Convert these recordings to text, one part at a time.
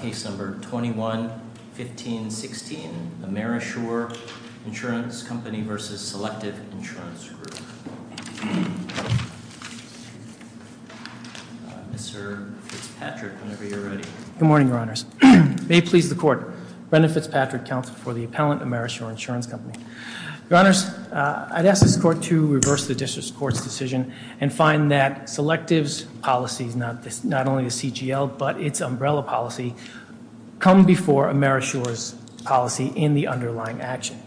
Case No. 21-15-16 Amerishore Insurance Company v. Selective Insurance Group Mr. Fitzpatrick, whenever you're ready. Good morning, Your Honors. May it please the Court, Brendan Fitzpatrick, Counselor for the Appellant, Amerishore Insurance Company. Your Honors, I'd ask this Court to reverse the District Court's decision and find that Selective's policies, not only the CGL, but its umbrella policy, come before Amerishore's policy in the underlying action.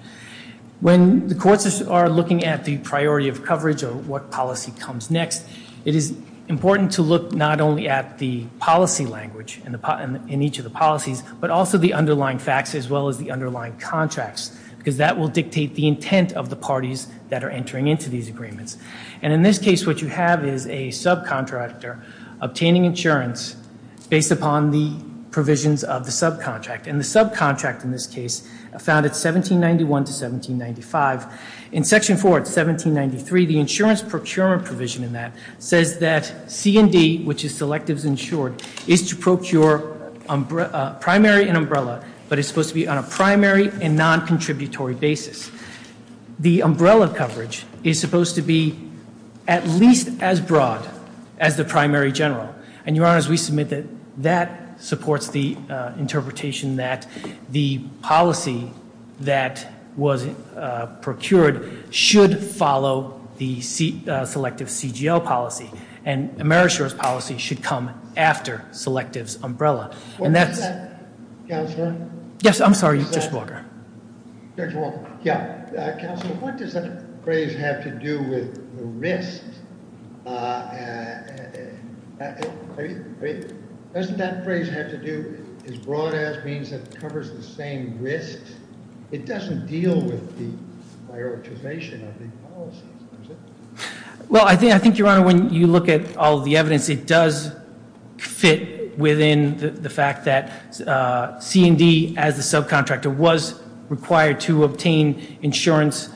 When the Courts are looking at the priority of coverage or what policy comes next, it is important to look not only at the policy language in each of the policies, but also the underlying facts as well as the underlying contracts, because that will dictate the intent of the parties that are entering into these agreements. And in this case, what you have is a subcontractor obtaining insurance based upon the provisions of the subcontract. And the subcontract, in this case, found at 1791 to 1795. In Section 4, 1793, the insurance procurement provision in that says that C&D, which is Selective's insured, is to procure primary and umbrella, but it's supposed to be on a primary and non-contributory basis. The umbrella coverage is supposed to be at least as broad as the primary general. And, Your Honors, we submit that that supports the interpretation that the policy that was procured should follow the Selective's CGL policy, and Amerishore's policy should come after Selective's umbrella. What does that phrase have to do with risk? Doesn't that phrase have to do with as broad as means that covers the same risk? It doesn't deal with the prioritization of the policies, does it? Well, I think, Your Honor, when you look at all of the evidence, it does fit within the fact that C&D, as a subcontractor, was required to obtain insurance,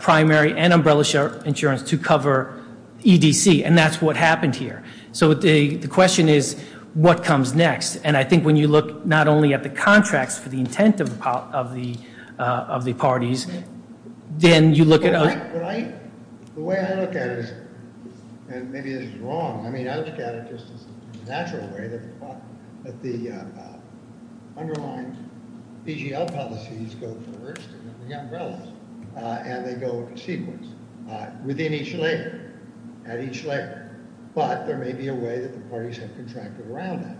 primary and umbrella insurance, to cover EDC, and that's what happened here. So, the question is, what comes next? And I think when you look not only at the contracts for the intent of the parties, then you look at- The way I look at it is, and maybe this is wrong, I mean, I look at it just as a natural way, that the underlying CGL policies go first, and then the umbrellas, and they go in a sequence, within each layer, at each layer. But, there may be a way that the parties have contracted around that.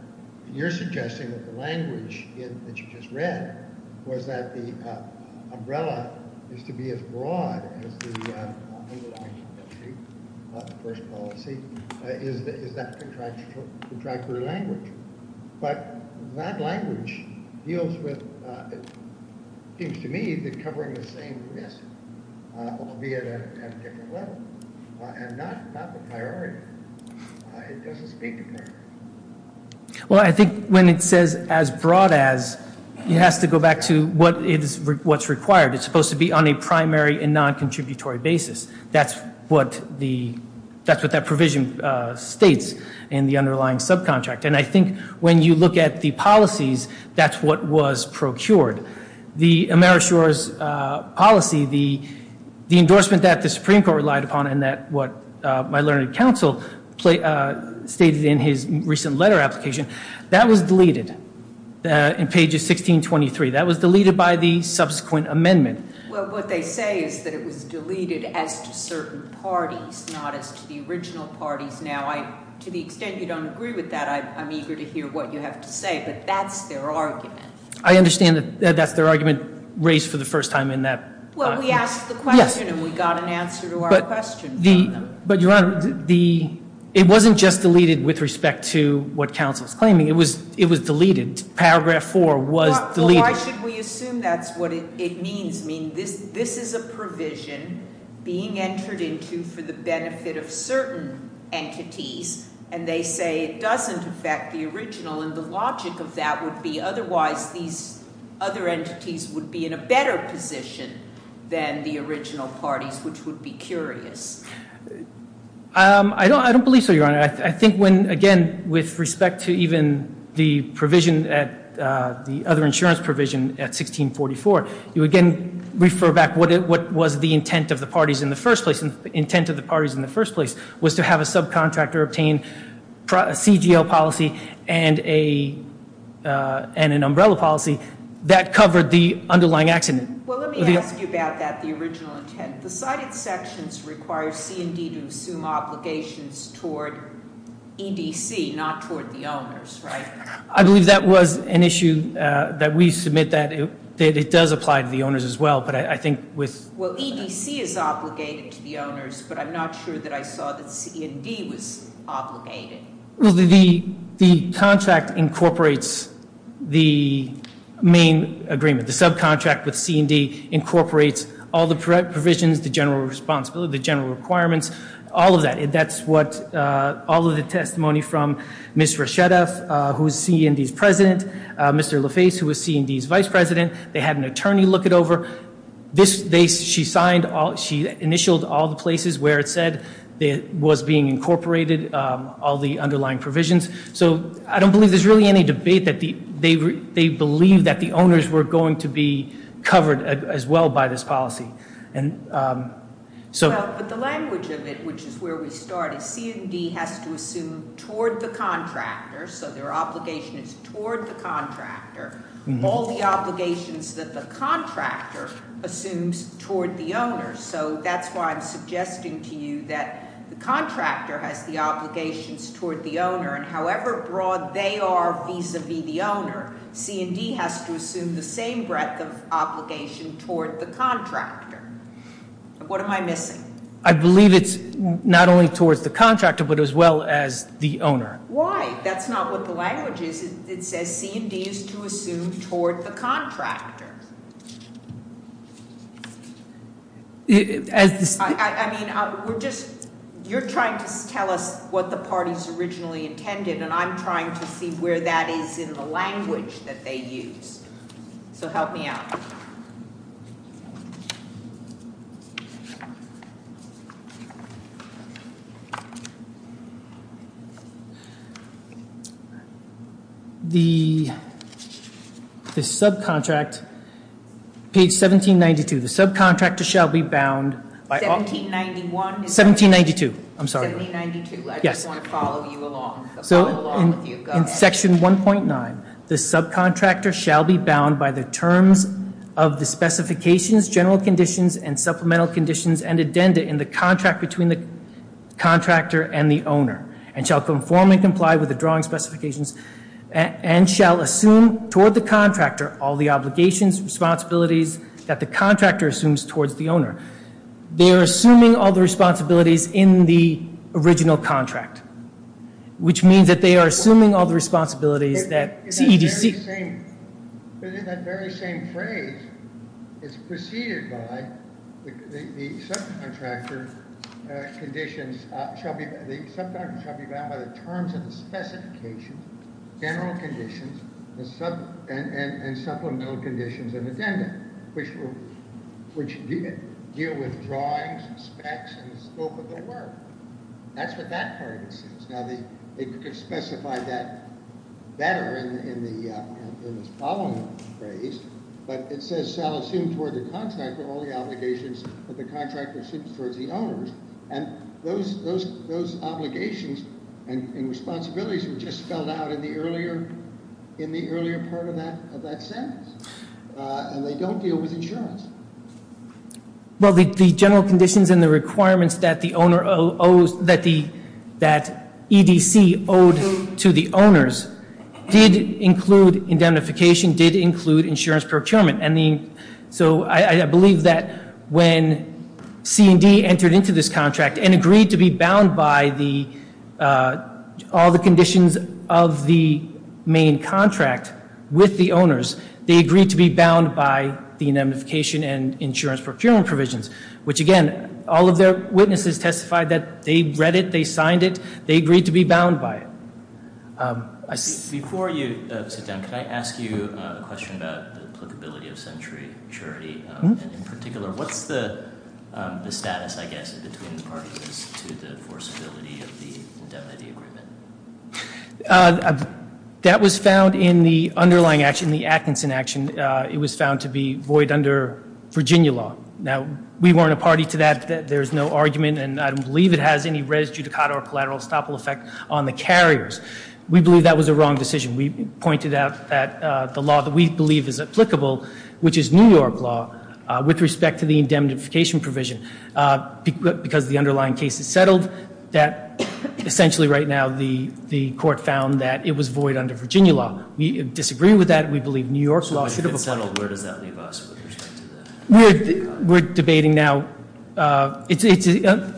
You're suggesting that the language that you just read was that the umbrella is to be as broad as the underlying CGL policy, the first policy, is that contractory language. But, that language deals with, it seems to me, covering the same risk, albeit at a different level, and not the priority. It doesn't speak to priority. Well, I think when it says as broad as, it has to go back to what's required. It's supposed to be on a primary and non-contributory basis. That's what that provision states in the underlying subcontract. And, I think when you look at the policies, that's what was procured. The Amerishores policy, the endorsement that the Supreme Court relied upon, and that what my learned counsel stated in his recent letter application, that was deleted in pages 16, 23. That was deleted by the subsequent amendment. Well, what they say is that it was deleted as to certain parties, not as to the original parties. Now, to the extent you don't agree with that, I'm eager to hear what you have to say. But, that's their argument. I understand that that's their argument raised for the first time in that. Well, we asked the question, and we got an answer to our question from them. But, Your Honor, it wasn't just deleted with respect to what counsel's claiming. It was deleted. Paragraph 4 was deleted. Well, why should we assume that's what it means? I mean, this is a provision being entered into for the benefit of certain entities, and they say it doesn't affect the original. And, the logic of that would be, otherwise, these other entities would be in a better position than the original parties, which would be curious. I don't believe so, Your Honor. I think when, again, with respect to even the provision, the other insurance provision at 1644, you again refer back what was the intent of the parties in the first place. The intent of the parties in the first place was to have a subcontractor obtain a CGL policy and an umbrella policy that covered the underlying accident. Well, let me ask you about that, the original intent. The cited sections require C&D to assume obligations toward EDC, not toward the owners, right? I believe that was an issue that we submit that it does apply to the owners as well, but I think with Well, EDC is obligated to the owners, but I'm not sure that I saw that C&D was obligated. Well, the contract incorporates the main agreement, the subcontract with C&D incorporates all the provisions, the general responsibility, the general requirements, all of that. That's what all of the testimony from Ms. Reschedeff, who is C&D's president, Mr. LaFace, who is C&D's vice president, they had an attorney look it over. She signed, she initialed all the places where it said it was being incorporated, all the underlying provisions. So I don't believe there's really any debate that they believe that the owners were going to be covered as well by this policy. And so- Well, but the language of it, which is where we started, C&D has to assume toward the contractor, so their obligation is toward the contractor. All the obligations that the contractor assumes toward the owner. So that's why I'm suggesting to you that the contractor has the obligations toward the owner. And however broad they are vis-a-vis the owner, C&D has to assume the same breadth of obligation toward the contractor. What am I missing? I believe it's not only towards the contractor, but as well as the owner. Why? That's not what the language is. It says C&D is to assume toward the contractor. I mean, we're just- You're trying to tell us what the party's originally intended, and I'm trying to see where that is in the language that they used. So help me out. The subcontract, page 1792. The subcontractor shall be bound by- 1791? 1792. I'm sorry. 1792. I just want to follow you along. So in section 1.9, the subcontractor shall be bound by the terms of the specifications, general conditions, and supplemental conditions, and addenda in the contract between the contractor and the owner, and shall conform and comply with the drawing specifications, and shall assume toward the contractor all the obligations, responsibilities that the contractor assumes towards the owner. They are assuming all the responsibilities in the original contract, which means that they are assuming all the responsibilities that CEDC- It's that very same phrase. It's preceded by the subcontractor conditions shall be- The subcontractor shall be bound by the terms of the specifications, general conditions, and supplemental conditions, and addenda, which deal with drawings, specs, and the scope of the work. That's what that part of it says. Now, they could specify that better in the following phrase, but it says shall assume toward the contractor all the obligations that the contractor assumes towards the owner, and those obligations and responsibilities were just spelled out in the earlier part of that sentence. And they don't deal with insurance. Well, the general conditions and the requirements that the owner owes- that EDC owed to the owners did include indemnification, did include insurance procurement, and so I believe that when CED entered into this contract and agreed to be bound by all the conditions of the main contract with the owners, they agreed to be bound by the indemnification and insurance procurement provisions, which, again, all of their witnesses testified that they read it, they signed it, they agreed to be bound by it. Before you sit down, can I ask you a question about the applicability of century maturity? In particular, what's the status, I guess, between the parties to the forcibility of the indemnity agreement? That was found in the underlying action, the Atkinson action. It was found to be void under Virginia law. Now, we weren't a party to that. There's no argument, and I don't believe it has any res judicata or collateral estoppel effect on the carriers. We believe that was a wrong decision. We pointed out that the law that we believe is applicable, which is New York law, with respect to the indemnification provision, because the underlying case is settled, that essentially right now the court found that it was void under Virginia law. We disagree with that. We believe New York law should have applied. So if it's settled, where does that leave us with respect to that? We're debating now. It's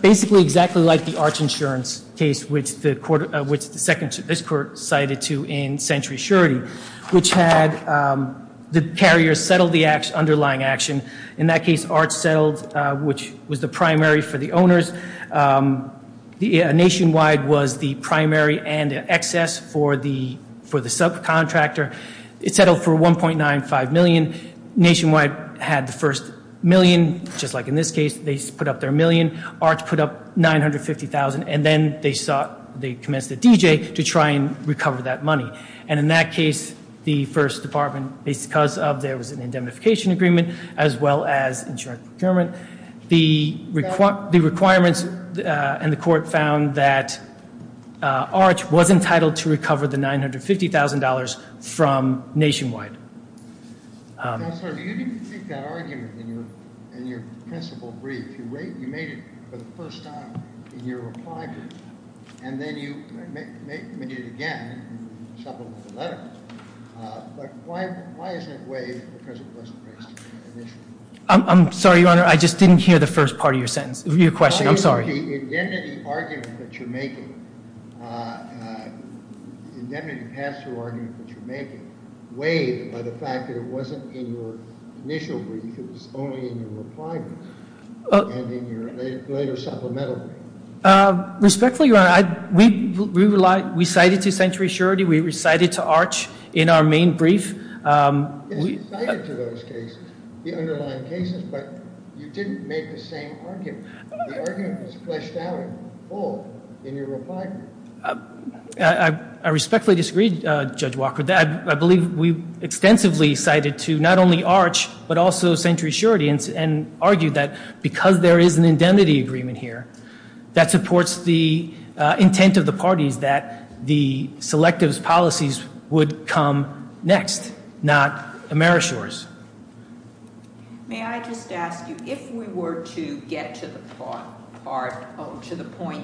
basically exactly like the arch insurance case, which the court, which this court cited to in century surety, which had the carrier settle the underlying action. In that case, arch settled, which was the primary for the owners. Nationwide was the primary and the excess for the subcontractor. It settled for $1.95 million. Nationwide had the first million, just like in this case. They put up their million. Arch put up $950,000. And then they commenced a DJ to try and recover that money. And in that case, the first department, because there was an indemnification agreement as well as insurance procurement, the requirements and the court found that arch was entitled to recover the $950,000 from nationwide. Counselor, you didn't make that argument in your principle brief. You made it for the first time in your reply brief. And then you made it again in the letter. But why isn't it waived because it wasn't raised initially? I'm sorry, Your Honor. I just didn't hear the first part of your question. I'm sorry. The indemnity argument that you're making, indemnity pass-through argument that you're making, waived by the fact that it wasn't in your initial brief. It was only in your reply brief and in your later supplemental brief. Respectfully, Your Honor, we cited to Century Surety. We recited to Arch in our main brief. You cited to those cases, the underlying cases, but you didn't make the same argument. The argument was fleshed out in full in your reply brief. I respectfully disagree, Judge Walker. I believe we extensively cited to not only Arch but also Century Surety and argued that because there is an indemnity agreement here, that supports the intent of the parties that the selective policies would come next, not Amerishores. May I just ask you, if we were to get to the point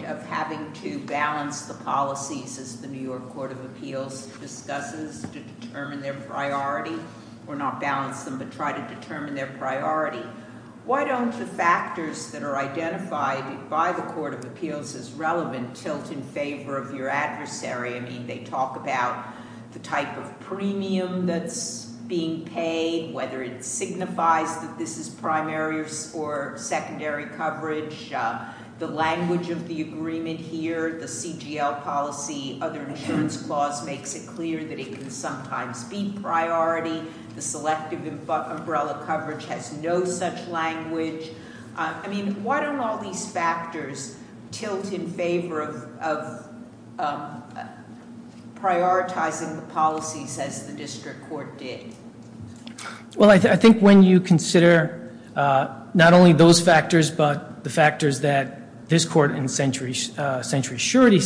of having to balance the policies as the New York Court of Appeals discusses to determine their priority, or not balance them but try to determine their priority, why don't the factors that are identified by the Court of Appeals as relevant tilt in favor of your adversary? I mean, they talk about the type of premium that's being paid, whether it signifies that this is primary or secondary coverage, the language of the agreement here, the CGL policy, other insurance clause makes it clear that it can sometimes be priority. The selective umbrella coverage has no such language. I mean, why don't all these factors tilt in favor of prioritizing the policies as the district court did? Well, I think when you consider not only those factors but the factors that this court in Century Surety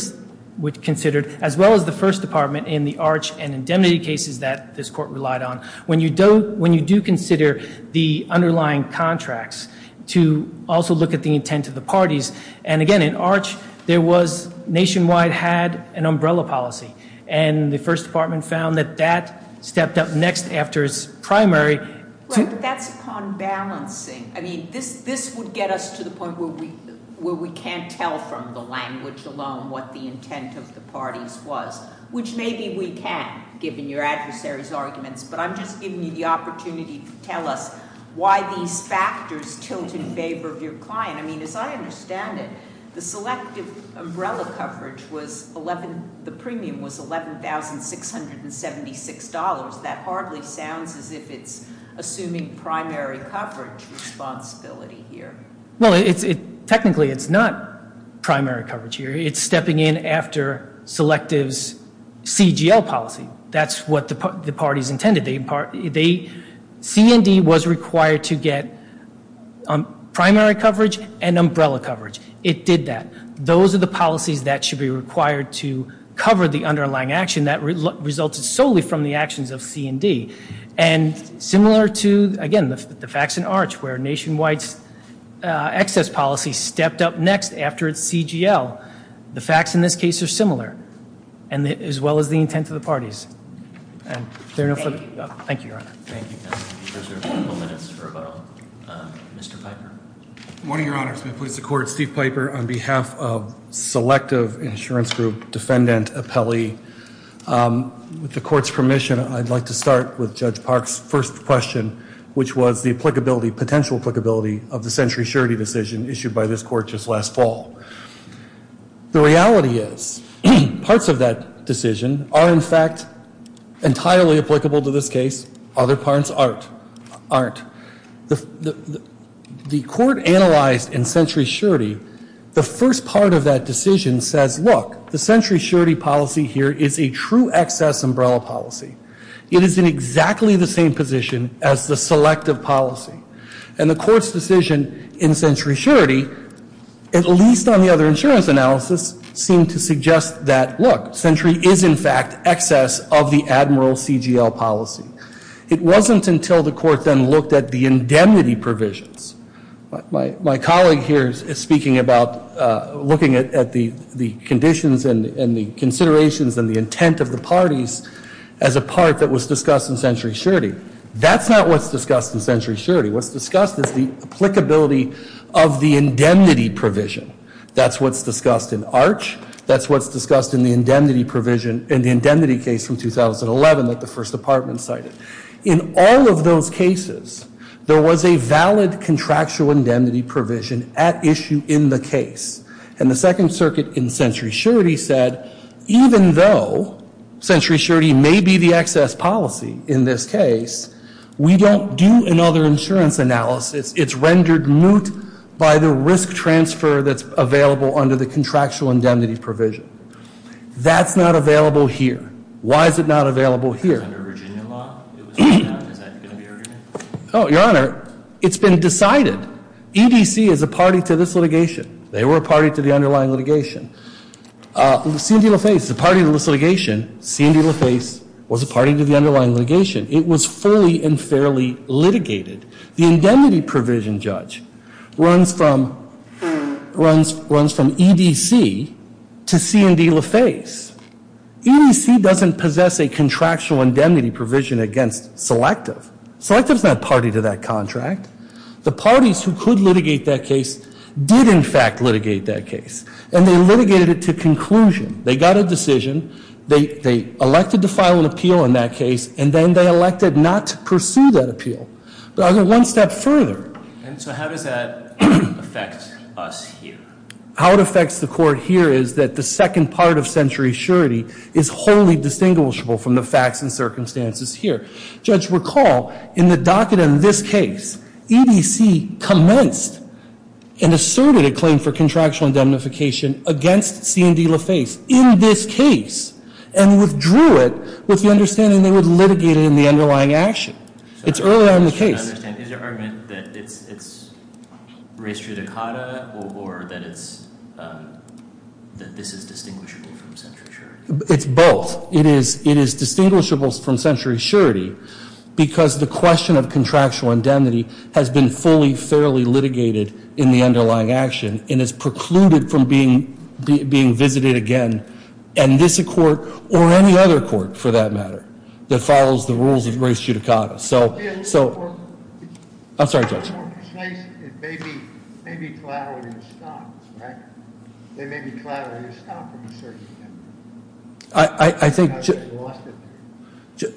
considered, as well as the first department in the Arch and indemnity cases that this court relied on, when you do consider the underlying contracts to also look at the intent of the parties, and again, in Arch there was nationwide had an umbrella policy, and the first department found that that stepped up next after its primary. Right, but that's upon balancing. I mean, this would get us to the point where we can't tell from the language alone what the intent of the parties was, which maybe we can, given your adversary's arguments, but I'm just giving you the opportunity to tell us why these factors tilt in favor of your client. I mean, as I understand it, the selective umbrella coverage, the premium was $11,676. That hardly sounds as if it's assuming primary coverage responsibility here. Well, technically it's not primary coverage here. It's stepping in after Selective's CGL policy. That's what the parties intended. C&D was required to get primary coverage and umbrella coverage. It did that. Those are the policies that should be required to cover the underlying action that resulted solely from the actions of C&D, and similar to, again, the facts in Arch where nationwide's excess policy stepped up next after its CGL. The facts in this case are similar as well as the intent of the parties. Thank you, Your Honor. Thank you. We'll reserve a couple minutes for Mr. Piper. Good morning, Your Honor. It's my pleasure to support Steve Piper on behalf of Selective Insurance Group Defendant Appellee. With the court's permission, I'd like to start with Judge Park's first question, which was the applicability, potential applicability of the Century Surety decision issued by this court just last fall. The reality is parts of that decision are, in fact, entirely applicable to this case. Other parts aren't. The court analyzed in Century Surety the first part of that decision says, look, the Century Surety policy here is a true excess umbrella policy. It is in exactly the same position as the Selective policy. And the court's decision in Century Surety, at least on the other insurance analysis, seemed to suggest that, look, Century is, in fact, excess of the Admiral CGL policy. It wasn't until the court then looked at the indemnity provisions. My colleague here is speaking about looking at the conditions and the considerations and the intent of the parties as a part that was discussed in Century Surety. That's not what's discussed in Century Surety. What's discussed is the applicability of the indemnity provision. That's what's discussed in Arch. That's what's discussed in the indemnity provision in the indemnity case from 2011 that the First Department cited. In all of those cases, there was a valid contractual indemnity provision at issue in the case. And the Second Circuit in Century Surety said, even though Century Surety may be the excess policy in this case, we don't do another insurance analysis. It's rendered moot by the risk transfer that's available under the contractual indemnity provision. That's not available here. Why is it not available here? Your Honor, it's been decided. EDC is a party to this litigation. They were a party to the underlying litigation. C&D LaFace is a party to this litigation. C&D LaFace was a party to the underlying litigation. It was fully and fairly litigated. The indemnity provision, Judge, runs from EDC to C&D LaFace. EDC doesn't possess a contractual indemnity provision against Selective. Selective's not a party to that contract. The parties who could litigate that case did, in fact, litigate that case. And they litigated it to conclusion. They got a decision. They elected to file an appeal in that case. And then they elected not to pursue that appeal. But I'll go one step further. And so how does that affect us here? How it affects the court here is that the second part of century surety is wholly distinguishable from the facts and circumstances here. Judge, recall in the docket in this case, EDC commenced and asserted a claim for contractual indemnification against C&D LaFace in this case and withdrew it with the understanding they would litigate it in the underlying action. It's earlier on in the case. I understand. Is your argument that it's res judicata or that this is distinguishable from century surety? It's both. It is distinguishable from century surety because the question of contractual indemnity has been fully, fairly litigated in the underlying action and is precluded from being visited again in this court or any other court, for that matter, that follows the rules of res judicata. I'm sorry, Judge. To be more precise, it may be collaterally estoppel, right? It may be collaterally estoppel. I think,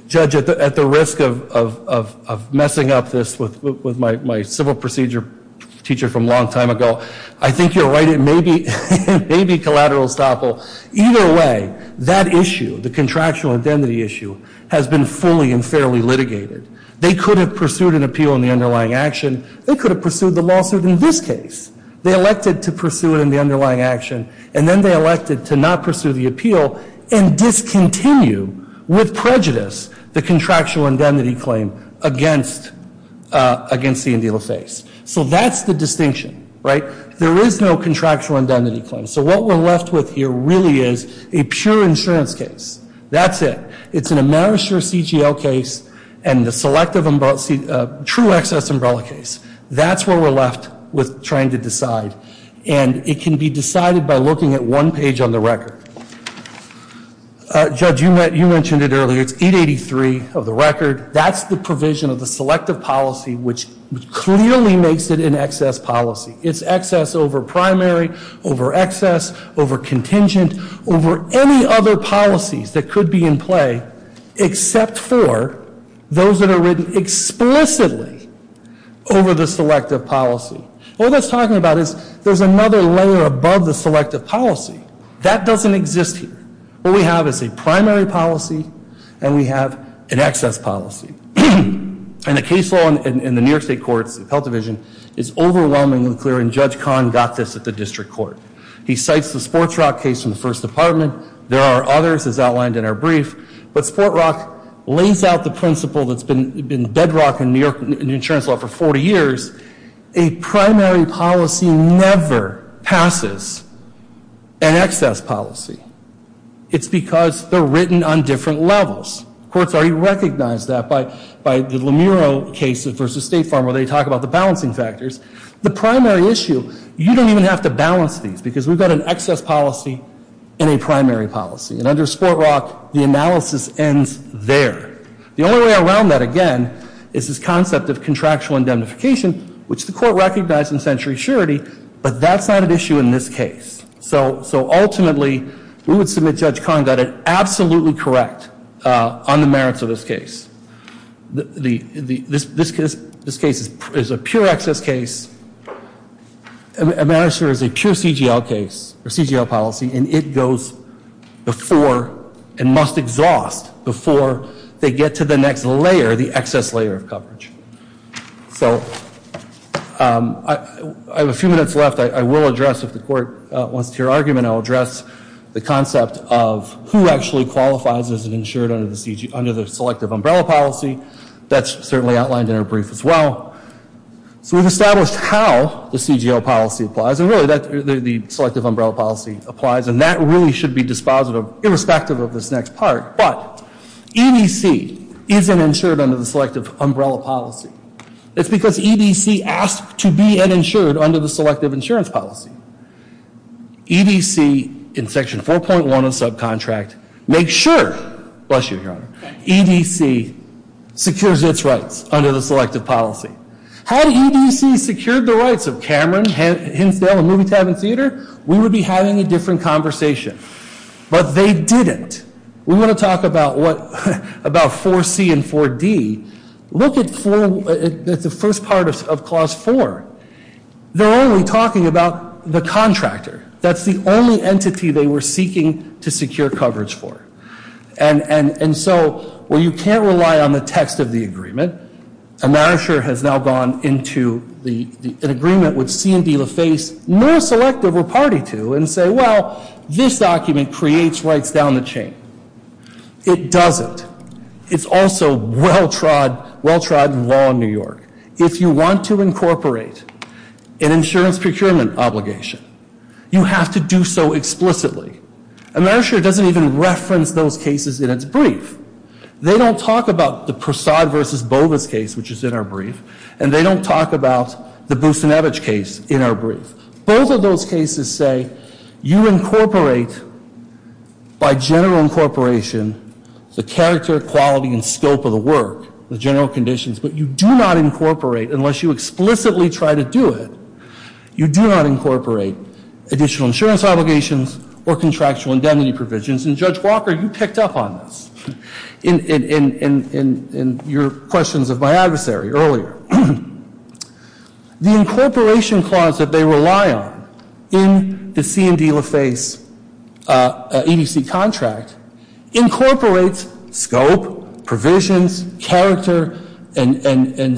Judge, at the risk of messing up this with my civil procedure teacher from a long time ago, I think you're right. It may be collateral estoppel. Either way, that issue, the contractual indemnity issue, has been fully and fairly litigated. They could have pursued an appeal in the underlying action. They could have pursued the lawsuit in this case. They elected to pursue it in the underlying action, and then they elected to not pursue the appeal and discontinue with prejudice the contractual indemnity claim against C&D LaFace. So that's the distinction, right? There is no contractual indemnity claim. So what we're left with here really is a pure insurance case. That's it. It's an AmeriShare CGL case and the selective true excess umbrella case. That's where we're left with trying to decide. And it can be decided by looking at one page on the record. Judge, you mentioned it earlier. It's 883 of the record. That's the provision of the selective policy, which clearly makes it an excess policy. It's excess over primary, over excess, over contingent, over any other policies that could be in play except for those that are written explicitly over the selective policy. All that's talking about is there's another layer above the selective policy. That doesn't exist here. What we have is a primary policy, and we have an excess policy. And the case law in the New York State Courts Health Division is overwhelmingly clear, and Judge Kahn got this at the district court. He cites the Sport Rock case from the First Department. There are others, as outlined in our brief. But Sport Rock lays out the principle that's been bedrock in New York insurance law for 40 years. A primary policy never passes an excess policy. It's because they're written on different levels. Courts already recognize that by the Lemuro case versus State Farm where they talk about the balancing factors. The primary issue, you don't even have to balance these because we've got an excess policy and a primary policy. And under Sport Rock, the analysis ends there. The only way around that, again, is this concept of contractual indemnification, which the court recognized in century surety, but that's not an issue in this case. So ultimately, we would submit Judge Kahn got it absolutely correct on the merits of this case. This case is a pure excess case. A manager is a pure CGL case or CGL policy, and it goes before and must exhaust before they get to the next layer, the excess layer of coverage. So I have a few minutes left. I will address, if the court wants to hear argument, I'll address the concept of who actually qualifies as an insured under the selective umbrella policy. That's certainly outlined in our brief as well. So we've established how the CGL policy applies and really the selective umbrella policy applies, and that really should be dispositive irrespective of this next part. But EBC isn't insured under the selective umbrella policy. It's because EBC asked to be insured under the selective insurance policy. EBC, in section 4.1 of the subcontract, makes sure, bless you, Your Honor, EBC secures its rights under the selective policy. Had EBC secured the rights of Cameron, Hinsdale, and Movie Tavern Theater, we would be having a different conversation. But they didn't. We want to talk about 4C and 4D. Look at the first part of clause 4. They're only talking about the contractor. That's the only entity they were seeking to secure coverage for. And so, well, you can't rely on the text of the agreement. And NARASHER has now gone into an agreement with C&D LaFace, nor selective or party to, and say, well, this document creates rights down the chain. It doesn't. But it's also well-trod law in New York. If you want to incorporate an insurance procurement obligation, you have to do so explicitly. And NARASHER doesn't even reference those cases in its brief. They don't talk about the Prasad v. Bova's case, which is in our brief, and they don't talk about the Boussinevich case in our brief. Both of those cases say you incorporate, by general incorporation, the character, quality, and scope of the work, the general conditions, but you do not incorporate, unless you explicitly try to do it, you do not incorporate additional insurance obligations or contractual indemnity provisions. And, Judge Walker, you picked up on this in your questions of my adversary earlier. The incorporation clause that they rely on in the C&D LaFace EDC contract incorporates scope, provisions, character, and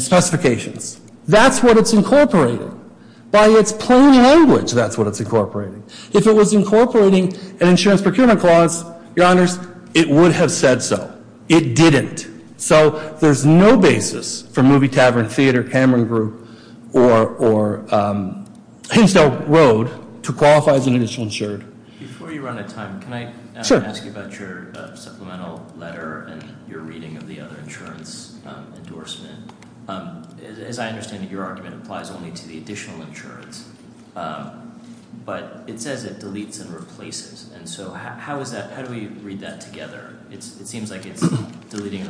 specifications. That's what it's incorporating. By its plain language, that's what it's incorporating. If it was incorporating an insurance procurement clause, Your Honors, it would have said so. It didn't. So there's no basis for Movie Tavern Theater, Cameron Group, or Hinsdale Road to qualify as an additional insured. Before you run out of time, can I ask you about your supplemental letter and your reading of the other insurance endorsement? As I understand it, your argument applies only to the additional insurance, but it says it deletes and replaces. And so how do we read that together? It seems like it's deleting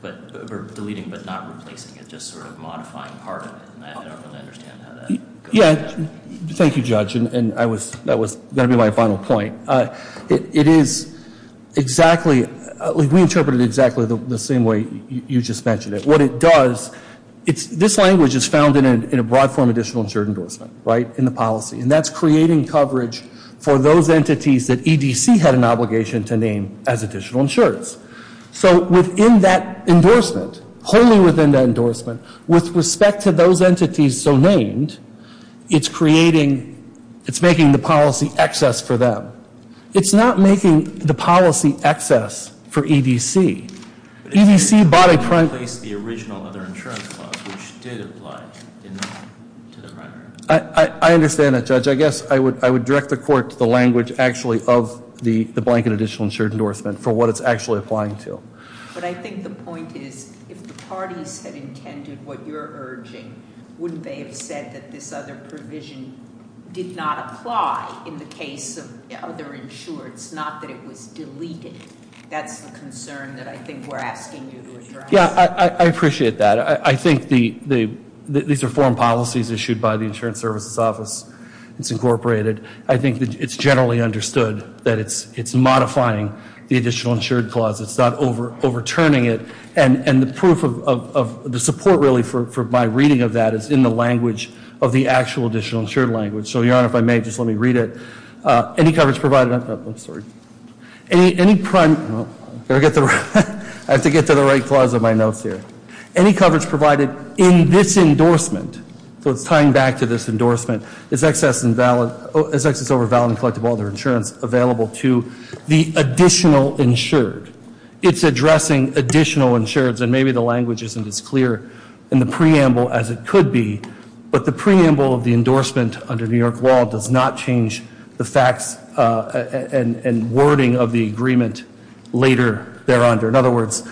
but not replacing. It's just sort of modifying part of it, and I don't really understand how that goes together. Thank you, Judge, and that was going to be my final point. It is exactly, we interpret it exactly the same way you just mentioned it. What it does, this language is found in a broad form of additional insured endorsement, right, in the policy. And that's creating coverage for those entities that EDC had an obligation to name as additional insureds. So within that endorsement, wholly within that endorsement, with respect to those entities so named, it's creating, it's making the policy excess for them. It's not making the policy excess for EDC. EDC bought a prime place, the original other insurance clause, which did apply to the primary. I understand that, Judge. I guess I would direct the court to the language actually of the blanket additional insured endorsement for what it's actually applying to. But I think the point is if the parties had intended what you're urging, wouldn't they have said that this other provision did not apply in the case of other insureds, not that it was deleted? That's the concern that I think we're asking you to address. Yeah, I appreciate that. I think these are foreign policies issued by the Insurance Services Office. It's incorporated. I think it's generally understood that it's modifying the additional insured clause. It's not overturning it. And the proof of the support really for my reading of that is in the language of the actual additional insured language. So, Your Honor, if I may, just let me read it. I'm sorry. I have to get to the right clause of my notes here. Any coverage provided in this endorsement, so it's tying back to this endorsement, is excess over valid and collectible other insurance available to the additional insured. It's addressing additional insureds. And maybe the language isn't as clear in the preamble as it could be. But the preamble of the endorsement under New York law does not change the facts and wording of the agreement later there under. In other words,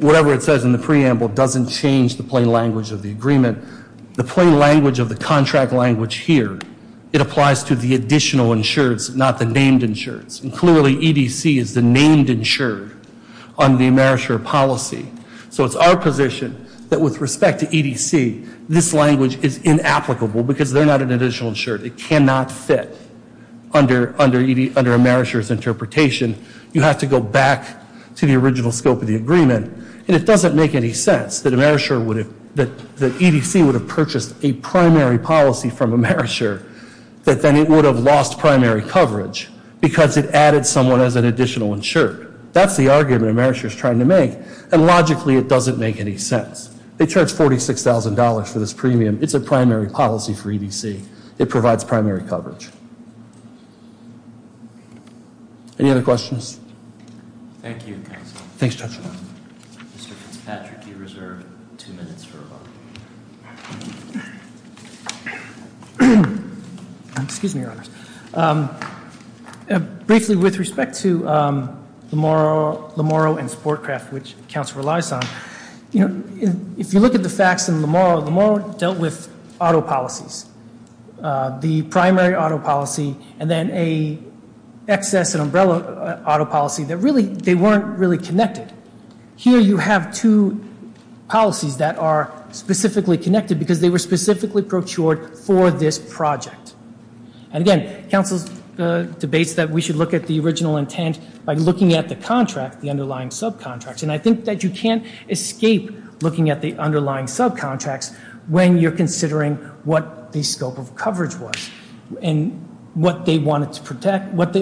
whatever it says in the preamble doesn't change the plain language of the agreement. The plain language of the contract language here, it applies to the additional insureds, not the named insureds. And clearly EDC is the named insured on the AmeriShare policy. So it's our position that with respect to EDC, this language is inapplicable because they're not an additional insured. It cannot fit under AmeriShare's interpretation. You have to go back to the original scope of the agreement. And it doesn't make any sense that AmeriShare would have, that EDC would have purchased a primary policy from AmeriShare that then it would have lost primary coverage because it added someone as an additional insured. That's the argument AmeriShare's trying to make. And logically, it doesn't make any sense. They charge $46,000 for this premium. It's a primary policy for EDC. It provides primary coverage. Any other questions? Thank you, counsel. Thanks, Judge. Mr. Fitzpatrick, you reserve two minutes for rebuttal. Excuse me, Your Honors. Briefly, with respect to Lamoro and Sportcraft, which counsel relies on, you know, if you look at the facts in Lamoro, Lamoro dealt with auto policies, the primary auto policy and then a excess and umbrella auto policy that really, they weren't really connected. Here you have two policies that are specifically connected because they were specifically brochured for this project. And again, counsel debates that we should look at the original intent by looking at the contract, the underlying subcontracts. And I think that you can't escape looking at the underlying subcontracts when you're considering what the scope of coverage was and what they wanted to protect, what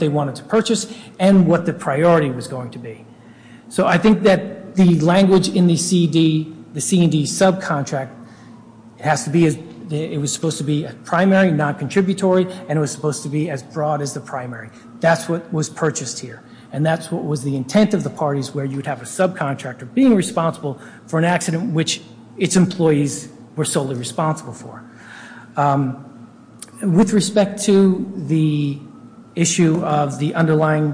they wanted to purchase, and what the priority was going to be. So I think that the language in the CD, the C&D subcontract, it has to be, it was supposed to be a primary, not contributory, and it was supposed to be as broad as the primary. That's what was purchased here. And that's what was the intent of the parties where you would have a subcontractor being responsible for an accident which its employees were solely responsible for. With respect to the issue of the underlying...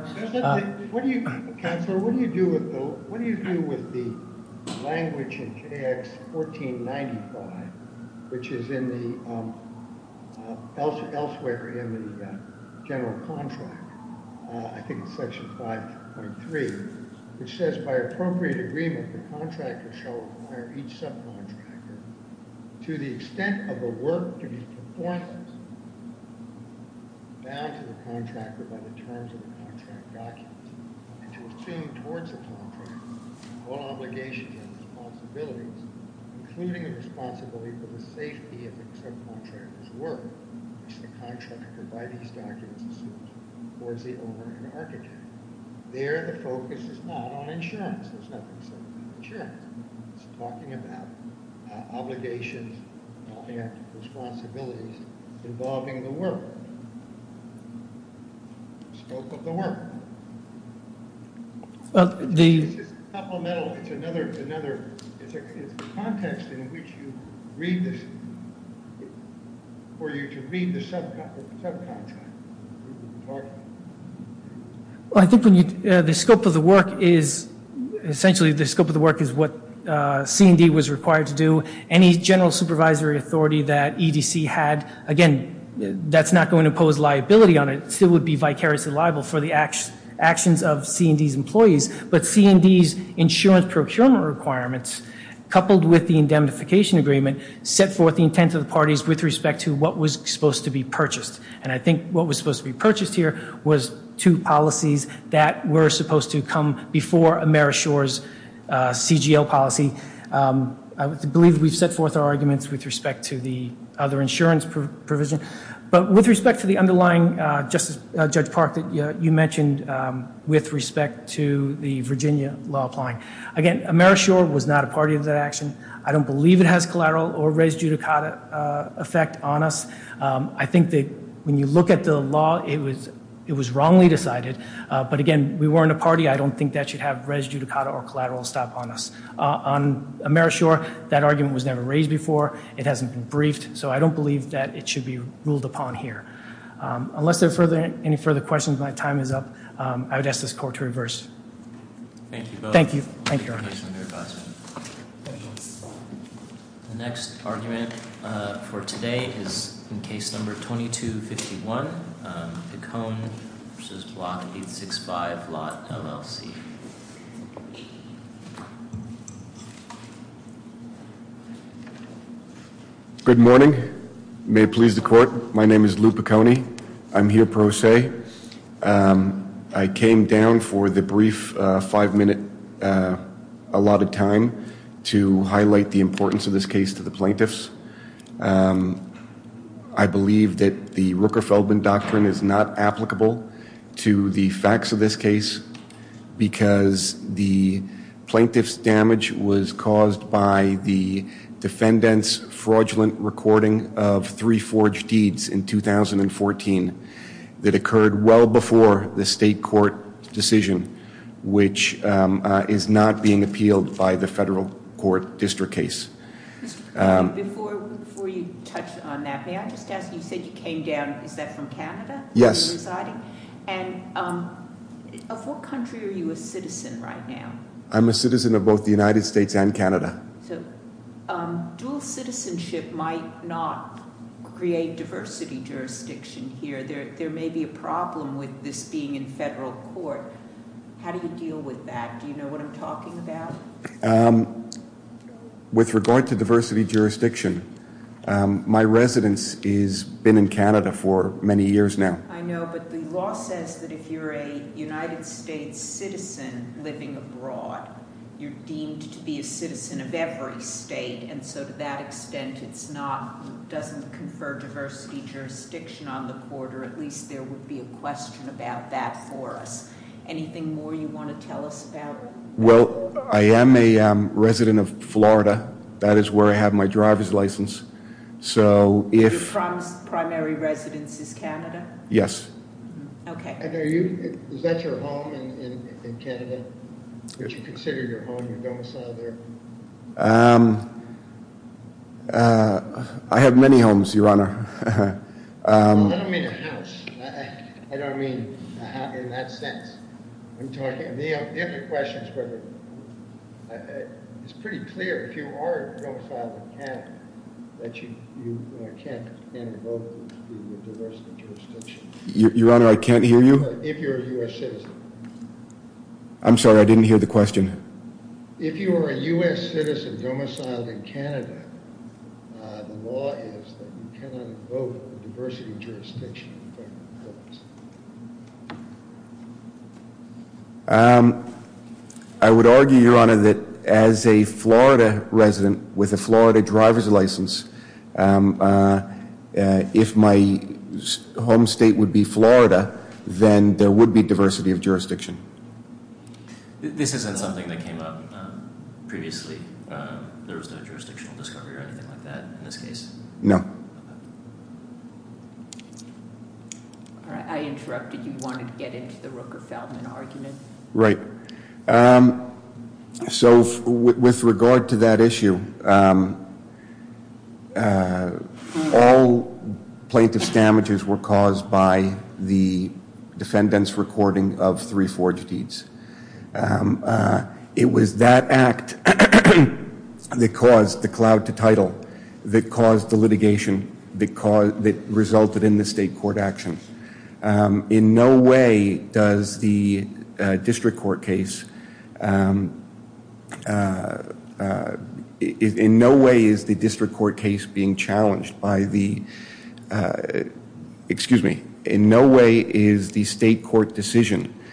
What do you, counselor, what do you do with the language in KX1495, which is elsewhere in the general contract, I think it's section 5.3, which says, by appropriate agreement, the contractor shall require each subcontractor, to the extent of the work to be performed, bound to the contractor by the terms of the contract documents, and to assume towards the contractor all obligations and responsibilities, including the responsibility for the safety of the subcontractor's work, which the contractor by these documents assumes, towards the owner and architect. There, the focus is not on insurance. There's nothing said about insurance. It's talking about obligations and responsibilities involving the work. The scope of the work. It's just supplemental. It's another, it's context in which you read this, for you to read the subcontractor. Well, I think the scope of the work is, essentially the scope of the work is what C&D was required to do. Any general supervisory authority that EDC had, again, that's not going to pose liability on it. It still would be vicariously liable for the actions of C&D's employees. But C&D's insurance procurement requirements, coupled with the indemnification agreement, set forth the intent of the parties with respect to what was supposed to be purchased. And I think what was supposed to be purchased here was two policies that were supposed to come before AmeriShore's CGL policy. I believe we've set forth our arguments with respect to the other insurance provision. But with respect to the underlying, Judge Park, that you mentioned with respect to the Virginia law applying. Again, AmeriShore was not a party of that action. I don't believe it has collateral or res judicata effect on us. I think that when you look at the law, it was wrongly decided. But, again, we weren't a party. I don't think that should have res judicata or collateral stop on us. On AmeriShore, that argument was never raised before. It hasn't been briefed. So I don't believe that it should be ruled upon here. Unless there are any further questions, my time is up. I would ask this court to reverse. Thank you both. Thank you. The next argument for today is in case number 2251. The cone, which is block 865, lot LLC. Good morning. May it please the court. My name is Lou Piconi. I'm here pro se. I came down for the brief five minute allotted time to highlight the importance of this case to the plaintiffs. I believe that the Rooker-Feldman doctrine is not applicable to the facts of this case because the plaintiff's damage was caused by the defendant's fraudulent recording of three forged deeds in 2014 that occurred well before the state court decision, which is not being appealed by the federal court district case. Before you touch on that, may I just ask, you said you came down, is that from Canada? Yes. And of what country are you a citizen right now? I'm a citizen of both the United States and Canada. So dual citizenship might not create diversity jurisdiction here. There may be a problem with this being in federal court. How do you deal with that? Do you know what I'm talking about? With regard to diversity jurisdiction, my residence has been in Canada for many years now. I know, but the law says that if you're a United States citizen living abroad, you're deemed to be a citizen of every state. And so to that extent, it doesn't confer diversity jurisdiction on the court, or at least there would be a question about that for us. Anything more you want to tell us about? Well, I am a resident of Florida. That is where I have my driver's license. Your primary residence is Canada? Yes. Okay. Is that your home in Canada, which you consider your home, your domicile there? I have many homes, Your Honor. I don't mean a house. I don't mean a house in that sense. The other question is pretty clear. If you are a domicile in Canada, you can't invoke the diversity jurisdiction. Your Honor, I can't hear you? If you're a U.S. citizen. I'm sorry, I didn't hear the question. If you are a U.S. citizen domiciled in Canada, the law is that you cannot invoke the diversity jurisdiction in federal courts. I would argue, Your Honor, that as a Florida resident with a Florida driver's license, if my home state would be Florida, then there would be diversity of jurisdiction. This isn't something that came up previously. There was no jurisdictional discovery or anything like that in this case? No. I interrupted. You wanted to get into the Rooker-Feldman argument. Right. So with regard to that issue, all plaintiff's damages were caused by the defendant's recording of three forged deeds. It was that act that caused the cloud to title, that caused the litigation, that resulted in the state court action. In no way does the district court case, in no way is the district court case being challenged by the, excuse me, in no way is the state court decision.